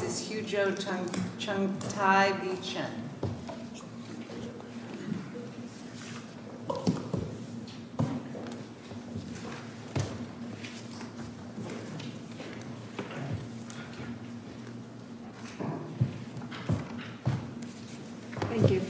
This is Huzhou Chuangtai V. Chen. Thank you.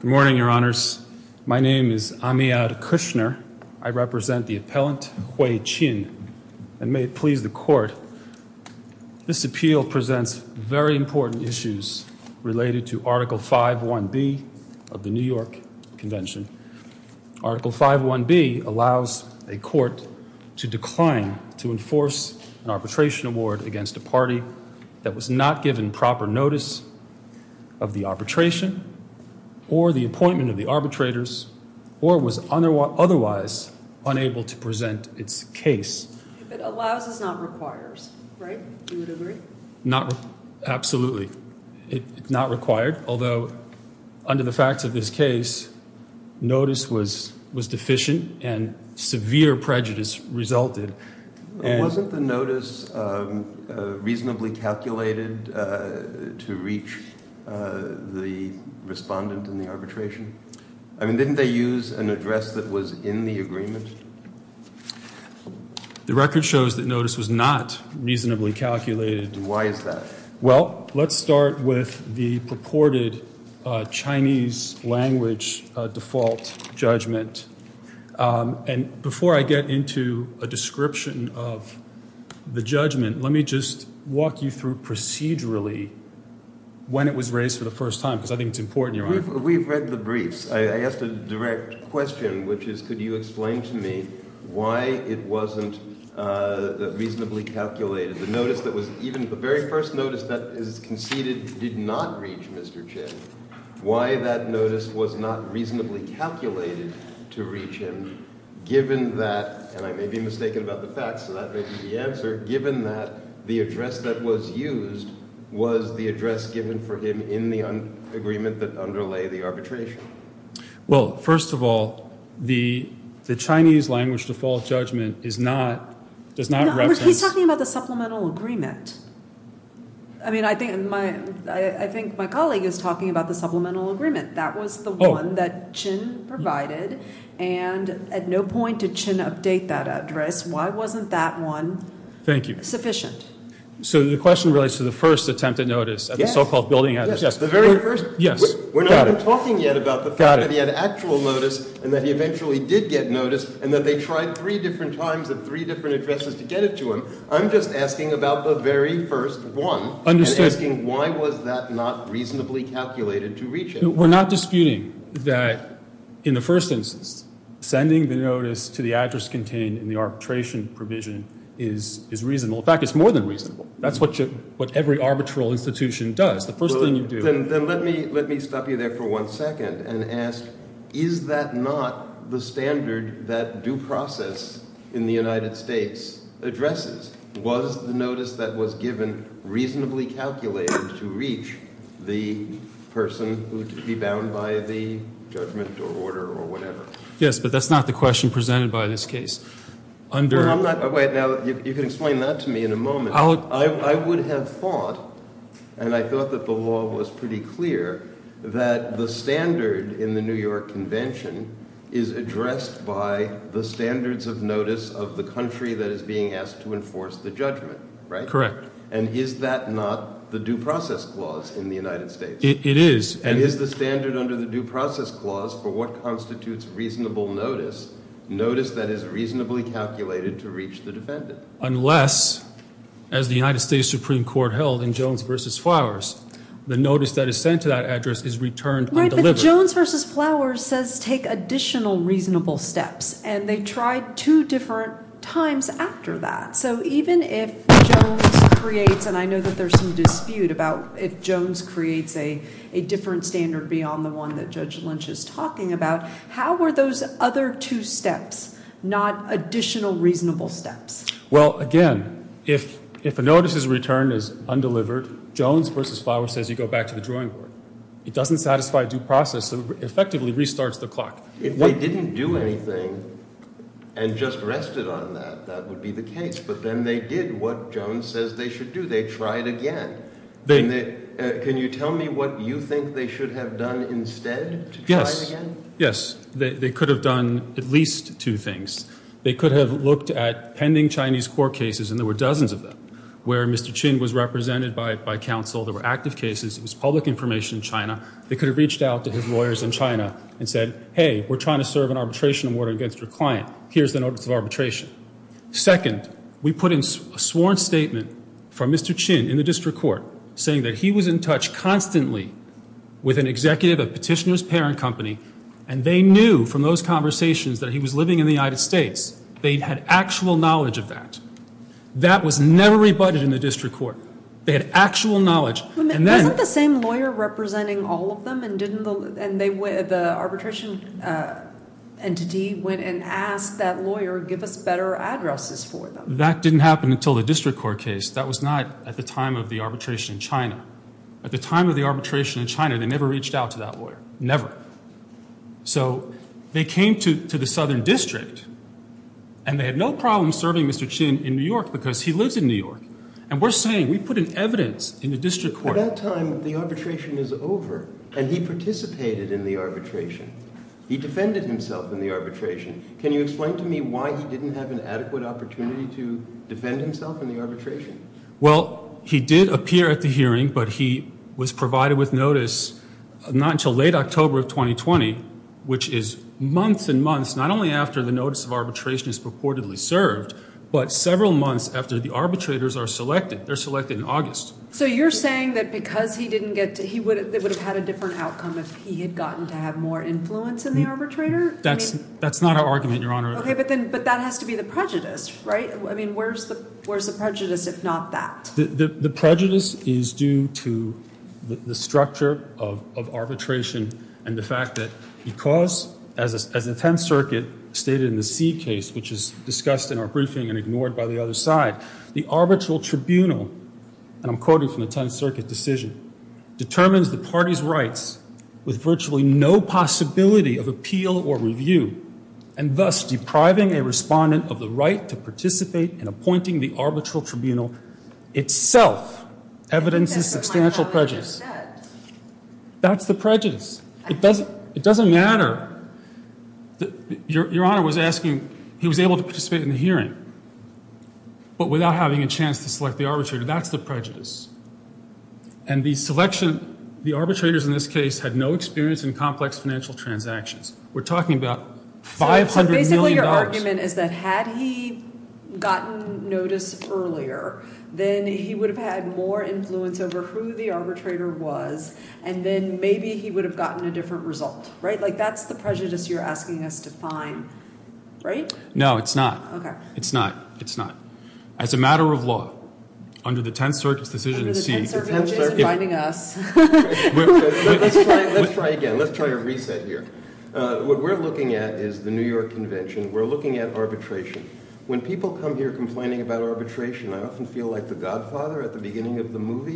Good morning, your honors. My name is Amiad Kushner. I represent the appellant, Hui Qin, and may it please the court, this appeal presents very important issues related to Article 5.1.B of the New York Convention. Article 5.1.B allows a court to decline to enforce an arbitration award against a party that was not given proper notice of the arbitration or the appointment of the arbitrators or was otherwise unable to present its case. If it allows, it does not require, right? Do you agree? Absolutely. It's not required, although under the facts of this case, notice was deficient and severe prejudice resulted. Wasn't the notice reasonably calculated to reach the respondent in the arbitration? I mean, didn't they use an address that was in the agreement? The record shows that notice was not reasonably calculated. Why is that? Well, let's start with the purported Chinese language default judgment. And before I get into a description of the judgment, let me just walk you through procedurally when it was raised for the first time because I think it's important, your honor. We've read the briefs. I asked a direct question, which is, could you explain to me why it wasn't reasonably calculated? The very first notice that is conceded did not reach Mr. Chen. Why that notice was not reasonably calculated to reach him, given that, and I may be mistaken about the facts, so that may be the answer, given that the address that was used was the address given for him in the agreement that underlay the arbitration? Well, first of all, the Chinese language default judgment is not, does not represent. He's talking about the supplemental agreement. I mean, I think my colleague is talking about the supplemental agreement. That was the one that Chen provided, and at no point did Chen update that address. Why wasn't that one sufficient? So the question relates to the first attempt at notice at the so-called building address. We're not even talking yet about the fact that he had actual notice and that he eventually did get notice and that they tried three different times at three different addresses to get it to him. I'm just asking about the very first one and asking why was that not reasonably calculated to reach him? We're not disputing that in the first instance, sending the notice to the address contained in the arbitration provision is reasonable. In fact, it's more than reasonable. That's what every arbitral institution does. The first thing you do is... Then let me stop you there for one second and ask, is that not the standard that due process in the United States addresses? Was the notice that was given reasonably calculated to reach the person who would be bound by the judgment or order or whatever? Yes, but that's not the question presented by this case. You can explain that to me in a moment. I would have thought, and I thought that the law was pretty clear, that the standard in the New York Convention is addressed by the standards of notice of the country that is being asked to enforce the judgment, right? Correct. And is that not the due process clause in the United States? It is. And is the standard under the due process clause for what constitutes reasonable notice, notice that is reasonably calculated to reach the defendant? Unless, as the United States Supreme Court held in Jones v. Flowers, the notice that is sent to that address is returned undelivered. But Jones v. Flowers says take additional reasonable steps, and they tried two different times after that. So even if Jones creates, and I know that there's some dispute about if Jones creates a different standard beyond the one that Judge Lynch is talking about, how are those other two steps not additional reasonable steps? Well, again, if a notice is returned as undelivered, Jones v. Flowers says you go back to the drawing board. It doesn't satisfy due process. It effectively restarts the clock. If they didn't do anything and just rested on that, that would be the case. But then they did what Jones says they should do. They tried again. Can you tell me what you think they should have done instead to try it again? Yes. They could have done at least two things. They could have looked at pending Chinese court cases, and there were dozens of them, where Mr. Chin was represented by counsel. There were active cases. It was public information in China. They could have reached out to his lawyers in China and said, hey, we're trying to serve an arbitration order against your client. Here's the notice of arbitration. Second, we put in a sworn statement from Mr. Chin in the district court saying that he was in touch constantly with an executive of Petitioner's Parent Company, and they knew from those conversations that he was living in the United States. They had actual knowledge of that. That was never rebutted in the district court. They had actual knowledge. Wasn't the same lawyer representing all of them, and the arbitration entity went and asked that lawyer, give us better addresses for them? That didn't happen until the district court case. That was not at the time of the arbitration in China. At the time of the arbitration in China, they never reached out to that lawyer. Never. So they came to the southern district, and they had no problem serving Mr. Chin in New York because he lives in New York. And we're saying we put in evidence in the district court. At that time, the arbitration was over, and he participated in the arbitration. He defended himself in the arbitration. Can you explain to me why he didn't have an adequate opportunity to defend himself in the arbitration? Well, he did appear at the hearing, but he was provided with notice not until late October of 2020, which is months and months, not only after the notice of arbitration is purportedly served, but several months after the arbitrators are selected. They're selected in August. So you're saying that because he didn't get to, he would have had a different outcome if he had gotten to have more influence in the arbitrator? But that has to be the prejudice, right? I mean, where's the prejudice, if not that? The prejudice is due to the structure of arbitration and the fact that because, as the 10th Circuit stated in the C case, which is discussed in our briefing and ignored by the other side, the arbitral tribunal, and I'm quoting from the 10th Circuit decision, determines the party's rights with virtually no possibility of appeal or review, and thus depriving a respondent of the right to participate in appointing the arbitral tribunal itself evidences substantial prejudice. That's the prejudice. It doesn't matter. Your Honor was asking, he was able to participate in the hearing, but without having a chance to select the arbitrator. That's the prejudice. And the selection, the arbitrators in this case had no experience in complex financial transactions. We're talking about $500 million. So basically your argument is that had he gotten notice earlier, then he would have had more influence over who the arbitrator was, and then maybe he would have gotten a different result, right? Like that's the prejudice you're asking us to find, right? No, it's not. It's not. It's not. Your Honor, as a matter of law, under the 10th Circuit's decision to seek… Under the 10th Circuit, they're finding us. Let's try again. Let's try a reset here. What we're looking at is the New York Convention. We're looking at arbitration. When people come here complaining about arbitration, I often feel like the godfather at the beginning of the movie.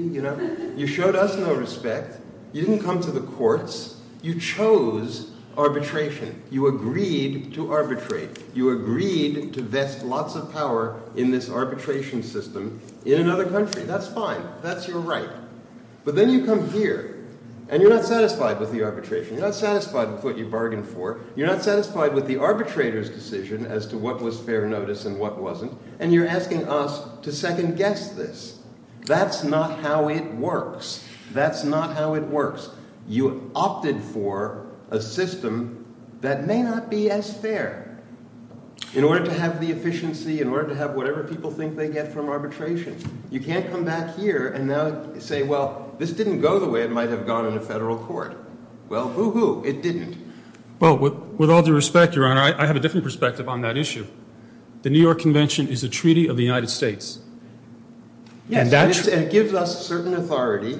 You showed us no respect. You didn't come to the courts. You chose arbitration. You agreed to arbitrate. You agreed to vest lots of power in this arbitration system in another country. That's fine. That's your right. But then you come here, and you're not satisfied with the arbitration. You're not satisfied with what you bargained for. You're not satisfied with the arbitrator's decision as to what was fair notice and what wasn't. And you're asking us to second-guess this. That's not how it works. You opted for a system that may not be as fair in order to have the efficiency, in order to have whatever people think they get from arbitration. You can't come back here and say, well, this didn't go the way it might have gone in a federal court. Well, boo-hoo, it didn't. Well, with all due respect, Your Honor, I have a different perspective on that issue. The New York Convention is a treaty of the United States. Yes, and it gives us certain authority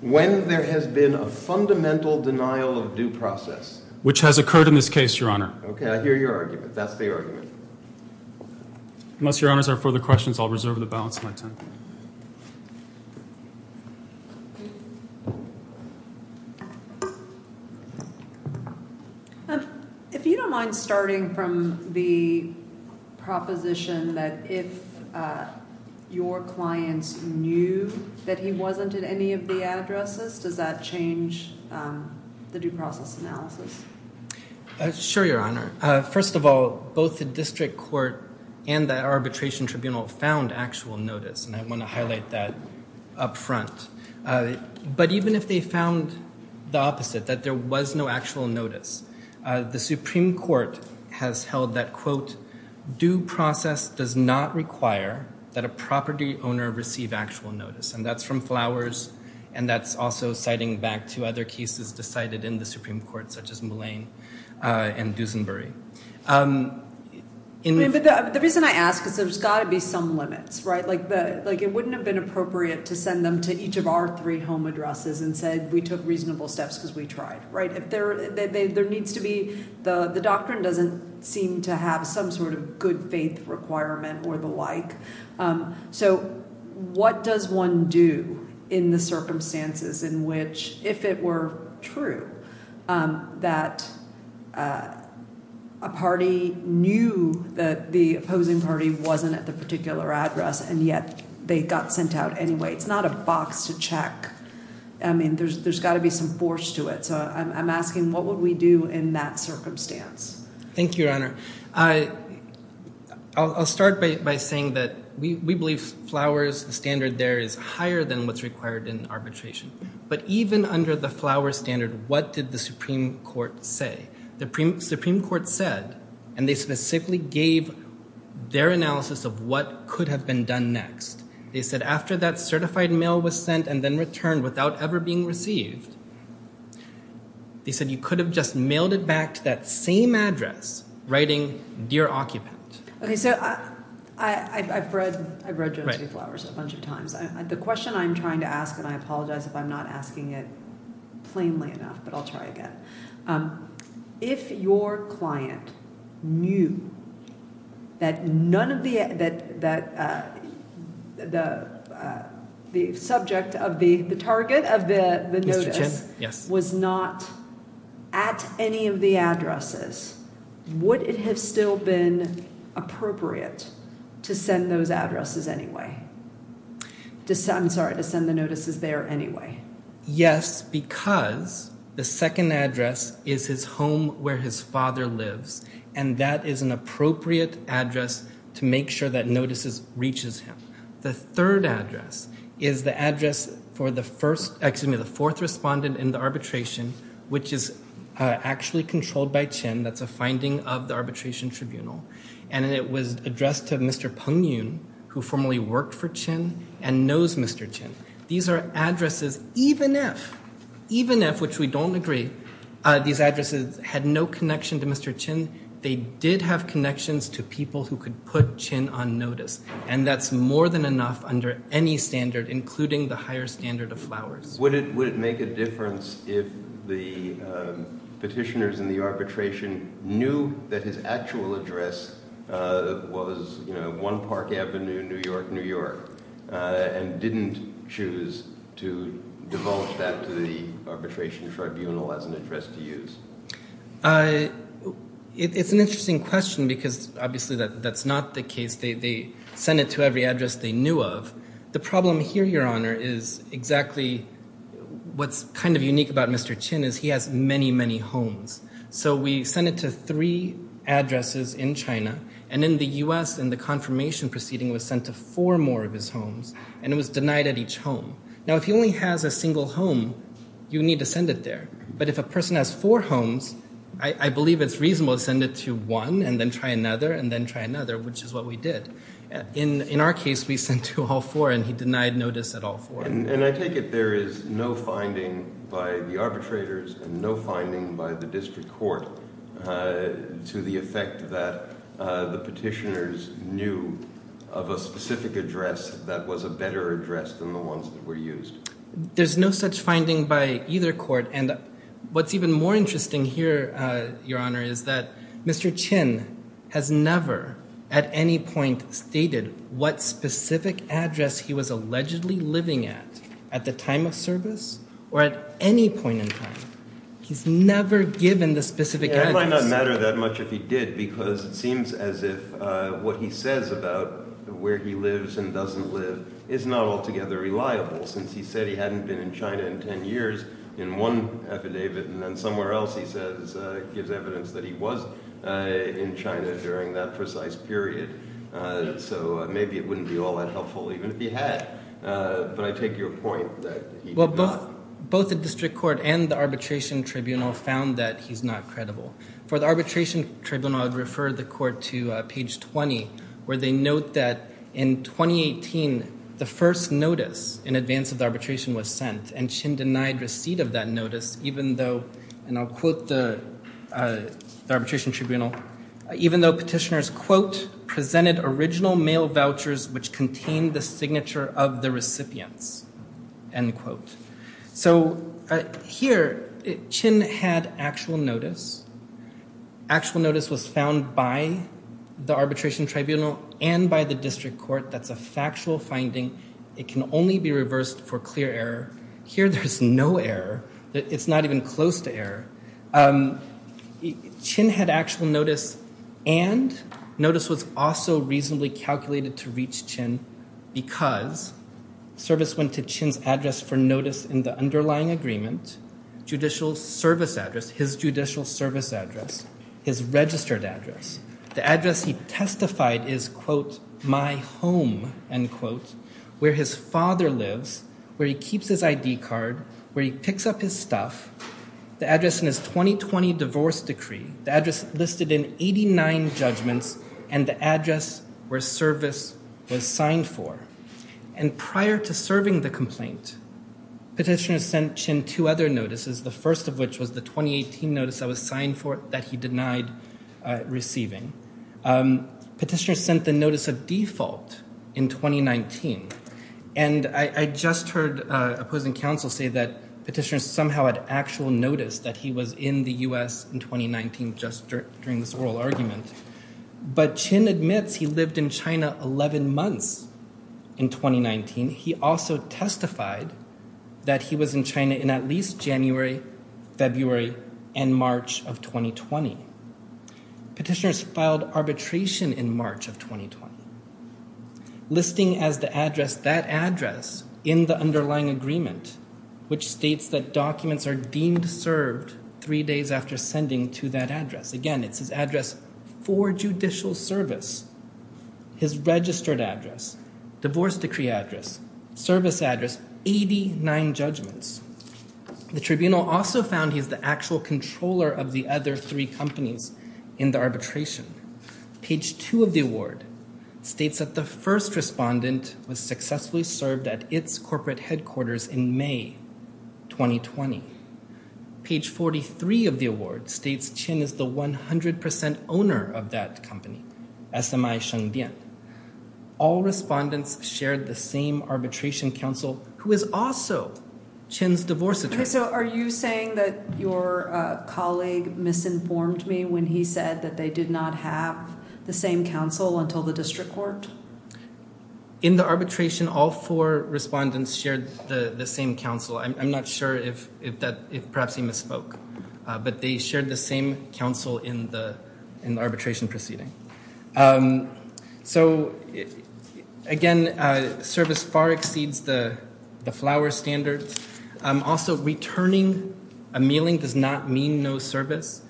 when there has been a fundamental denial of due process. Which has occurred in this case, Your Honor. Okay, I hear your argument. That's the argument. Unless Your Honors have further questions, I'll reserve the balance of my time. Thank you. If you don't mind starting from the proposition that if your client knew that he wasn't at any of the addresses, does that change the due process analysis? Sure, Your Honor. First of all, both the district court and the arbitration tribunal found actual notice, and I want to highlight that up front. But even if they found the opposite, that there was no actual notice, the Supreme Court has held that, quote, due process does not require that a property owner receive actual notice. And that's from Flowers, and that's also citing back to other cases decided in the Supreme Court, such as Mullane and Dusenbury. But the reason I ask is there's got to be some limits, right? Like it wouldn't have been appropriate to send them to each of our three home addresses and said we took reasonable steps because we tried, right? There needs to be, the doctrine doesn't seem to have some sort of good faith requirement or the like. So what does one do in the circumstances in which if it were true that a party knew that the opposing party wasn't at the particular address and yet they got sent out anyway? It's not a box to check. I mean, there's got to be some force to it. So I'm asking what would we do in that circumstance? Thank you, Your Honor. I'll start by saying that we believe Flowers' standard there is higher than what's required in arbitration. But even under the Flowers standard, what did the Supreme Court say? The Supreme Court said, and they specifically gave their analysis of what could have been done next. They said after that certified mail was sent and then returned without ever being received, they said you could have just mailed it back to that same address writing dear occupant. Okay, so I've read Jones v. Flowers a bunch of times. The question I'm trying to ask, and I apologize if I'm not asking it plainly enough, but I'll try again. If your client knew that none of the subject of the target of the notice was not at any of the addresses, would it have still been appropriate to send those addresses anyway? I'm sorry, to send the notices there anyway? Yes, because the second address is his home where his father lives. And that is an appropriate address to make sure that notices reaches him. The third address is the address for the fourth respondent in the arbitration, which is actually controlled by Chin. That's a finding of the arbitration tribunal. And it was addressed to Mr. Peng Yun, who formerly worked for Chin and knows Mr. Chin. These are addresses, even if, even if, which we don't agree, these addresses had no connection to Mr. Chin. They did have connections to people who could put Chin on notice. And that's more than enough under any standard, including the higher standard of Flowers. Would it make a difference if the petitioners in the arbitration knew that his actual address was One Park Avenue, New York, New York, and didn't choose to divulge that to the arbitration tribunal as an address to use? It's an interesting question because, obviously, that's not the case. They sent it to every address they knew of. The problem here, Your Honor, is exactly what's kind of unique about Mr. Chin is he has many, many homes. So we sent it to three addresses in China. And in the U.S., in the confirmation proceeding, it was sent to four more of his homes. And it was denied at each home. Now, if he only has a single home, you need to send it there. But if a person has four homes, I believe it's reasonable to send it to one and then try another and then try another, which is what we did. In our case, we sent to all four, and he denied notice at all four. And I take it there is no finding by the arbitrators and no finding by the district court to the effect that the petitioners knew of a specific address that was a better address than the ones that were used. There's no such finding by either court. And what's even more interesting here, Your Honor, is that Mr. Chin has never at any point stated what specific address he was allegedly living at at the time of service or at any point in time. He's never given the specific address. Because it seems as if what he says about where he lives and doesn't live is not altogether reliable, since he said he hadn't been in China in 10 years in one affidavit. And then somewhere else, he says, gives evidence that he was in China during that precise period. So maybe it wouldn't be all that helpful even if he had. But I take your point that he did not. Both the district court and the arbitration tribunal found that he's not credible. For the arbitration tribunal, I would refer the court to page 20, where they note that in 2018, the first notice in advance of the arbitration was sent. And Chin denied receipt of that notice even though, and I'll quote the arbitration tribunal, even though petitioners, quote, presented original mail vouchers which contained the signature of the recipients, end quote. So here, Chin had actual notice. Actual notice was found by the arbitration tribunal and by the district court. That's a factual finding. It can only be reversed for clear error. Here, there's no error. It's not even close to error. Chin had actual notice and notice was also reasonably calculated to reach Chin because service went to Chin's address for notice in the underlying agreement, judicial service address, his judicial service address, his registered address. The address he testified is, quote, my home, end quote, where his father lives, where he keeps his ID card, where he picks up his stuff. The address in his 2020 divorce decree, the address listed in 89 judgments, and the address where service was signed for. And prior to serving the complaint, petitioner sent Chin two other notices, the first of which was the 2018 notice that was signed for that he denied receiving. Petitioner sent the notice of default in 2019. And I just heard opposing counsel say that petitioner somehow had actual notice that he was in the U.S. in 2019 just during this oral argument. But Chin admits he lived in China 11 months in 2019. He also testified that he was in China in at least January, February, and March of 2020. Petitioners filed arbitration in March of 2020. Listing as the address that address in the underlying agreement, which states that documents are deemed served three days after sending to that address. Again, it's his address for judicial service, his registered address, divorce decree address, service address, 89 judgments. The tribunal also found he's the actual controller of the other three companies in the arbitration. Page two of the award states that the first respondent was successfully served at its corporate headquarters in May 2020. Page 43 of the award states Chin is the 100% owner of that company, SMI Shengdian. All respondents shared the same arbitration counsel who is also Chin's divorce attorney. So are you saying that your colleague misinformed me when he said that they did not have the same counsel until the district court? In the arbitration, all four respondents shared the same counsel. I'm not sure if that perhaps he misspoke, but they shared the same counsel in the arbitration proceeding. So, again, service far exceeds the flower standards. Also, returning a mailing does not mean no service.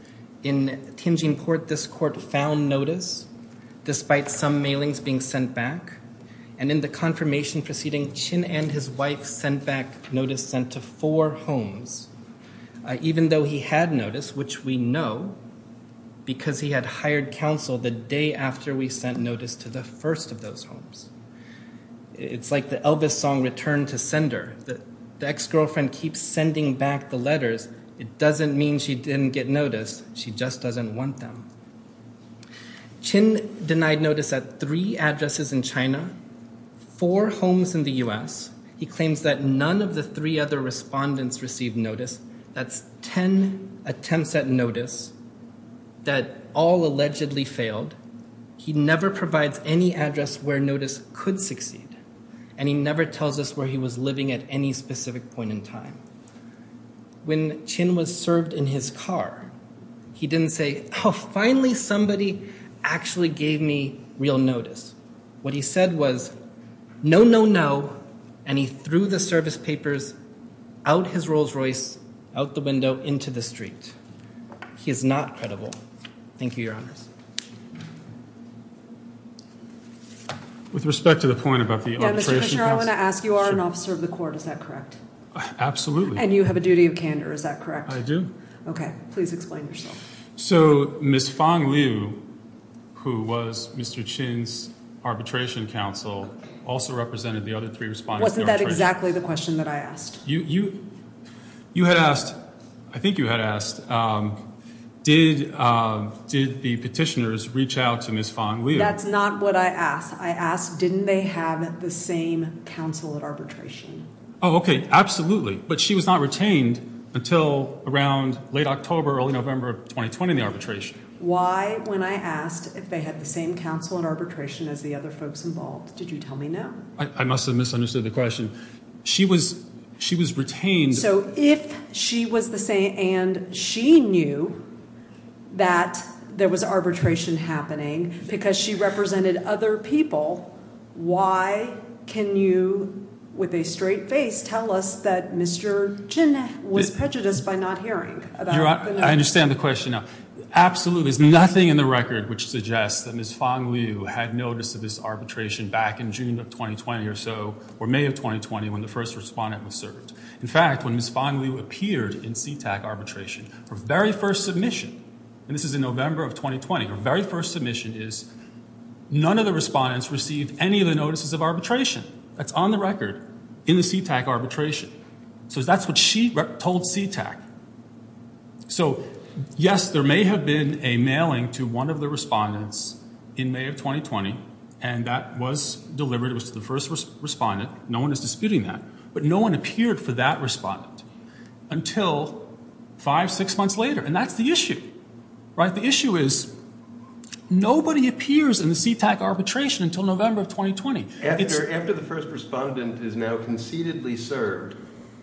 In Tianjin court, this court found notice despite some mailings being sent back. And in the confirmation proceeding, Chin and his wife sent back notice sent to four homes, even though he had notice, which we know, because he had hired counsel the day after we sent notice to the first of those homes. It's like the Elvis song Return to Sender. The ex-girlfriend keeps sending back the letters. It doesn't mean she didn't get notice. She just doesn't want them. Chin denied notice at three addresses in China, four homes in the U.S. He claims that none of the three other respondents received notice. That's 10 attempts at notice that all allegedly failed. He never provides any address where notice could succeed. And he never tells us where he was living at any specific point in time. When Chin was served in his car, he didn't say, oh, finally, somebody actually gave me real notice. What he said was, no, no, no. And he threw the service papers out his Rolls Royce, out the window, into the street. He is not credible. Thank you, Your Honor. With respect to the point about the arbitration, I want to ask you are an officer of the court. Is that correct? Absolutely. And you have a duty of candor. Is that correct? I do. OK, please explain yourself. So Miss Fong Liu, who was Mr. Chin's arbitration counsel, also represented the other three respondents. Wasn't that exactly the question that I asked? You had asked, I think you had asked, did the petitioners reach out to Miss Fong Liu? That's not what I asked. I asked, didn't they have the same counsel at arbitration? Oh, OK, absolutely. But she was not retained until around late October, early November of 2020 in the arbitration. Why, when I asked if they had the same counsel at arbitration as the other folks involved, did you tell me no? I must have misunderstood the question. She was retained. So if she was the same and she knew that there was arbitration happening because she represented other people, why can you, with a straight face, tell us that Mr. Chin was prejudiced by not hearing? I understand the question now. There absolutely is nothing in the record which suggests that Miss Fong Liu had notice of this arbitration back in June of 2020 or so, or May of 2020, when the first respondent was served. In fact, when Miss Fong Liu appeared in CTAC arbitration, her very first submission, and this is in November of 2020, her very first submission is none of the respondents received any of the notices of arbitration. That's on the record in the CTAC arbitration. So that's what she told CTAC. So, yes, there may have been a mailing to one of the respondents in May of 2020, and that was delivered. It was to the first respondent. No one is disputing that. But no one appeared for that respondent until five, six months later. And that's the issue, right? The issue is nobody appears in the CTAC arbitration until November of 2020. After the first respondent is now concededly served,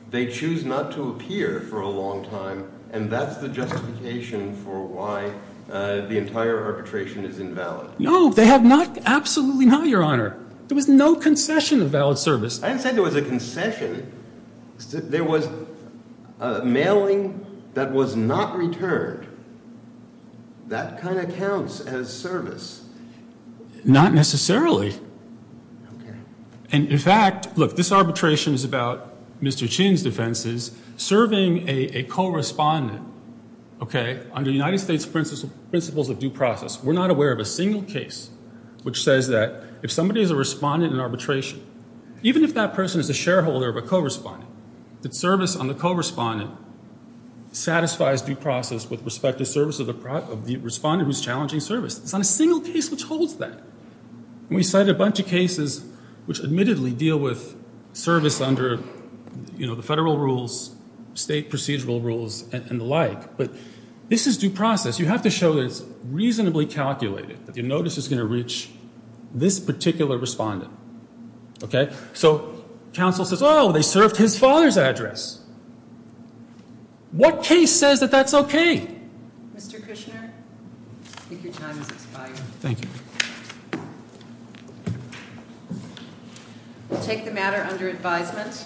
they choose not to appear for a long time, and that's the justification for why the entire arbitration is invalid. No, they have not. Absolutely not, Your Honor. There was no concession of valid service. I didn't say there was a concession. There was mailing that was not returned. That kind of counts as service. Not necessarily. And, in fact, look, this arbitration is about Mr. Chin's defenses. Serving a co-respondent, okay, under United States principles of due process, we're not aware of a single case which says that if somebody is a respondent in arbitration, even if that person is a shareholder of a co-respondent, that service on the co-respondent satisfies due process with respect to service of the respondent who's challenging service. There's not a single case which holds that. We cited a bunch of cases which admittedly deal with service under, you know, the federal rules, state procedural rules, and the like. But this is due process. You have to show that it's reasonably calculated, that your notice is going to reach this particular respondent, okay? So counsel says, oh, they served his father's address. What case says that that's okay? Okay. Mr. Kushner, I think your time has expired. Thank you. We'll take the matter under advisement.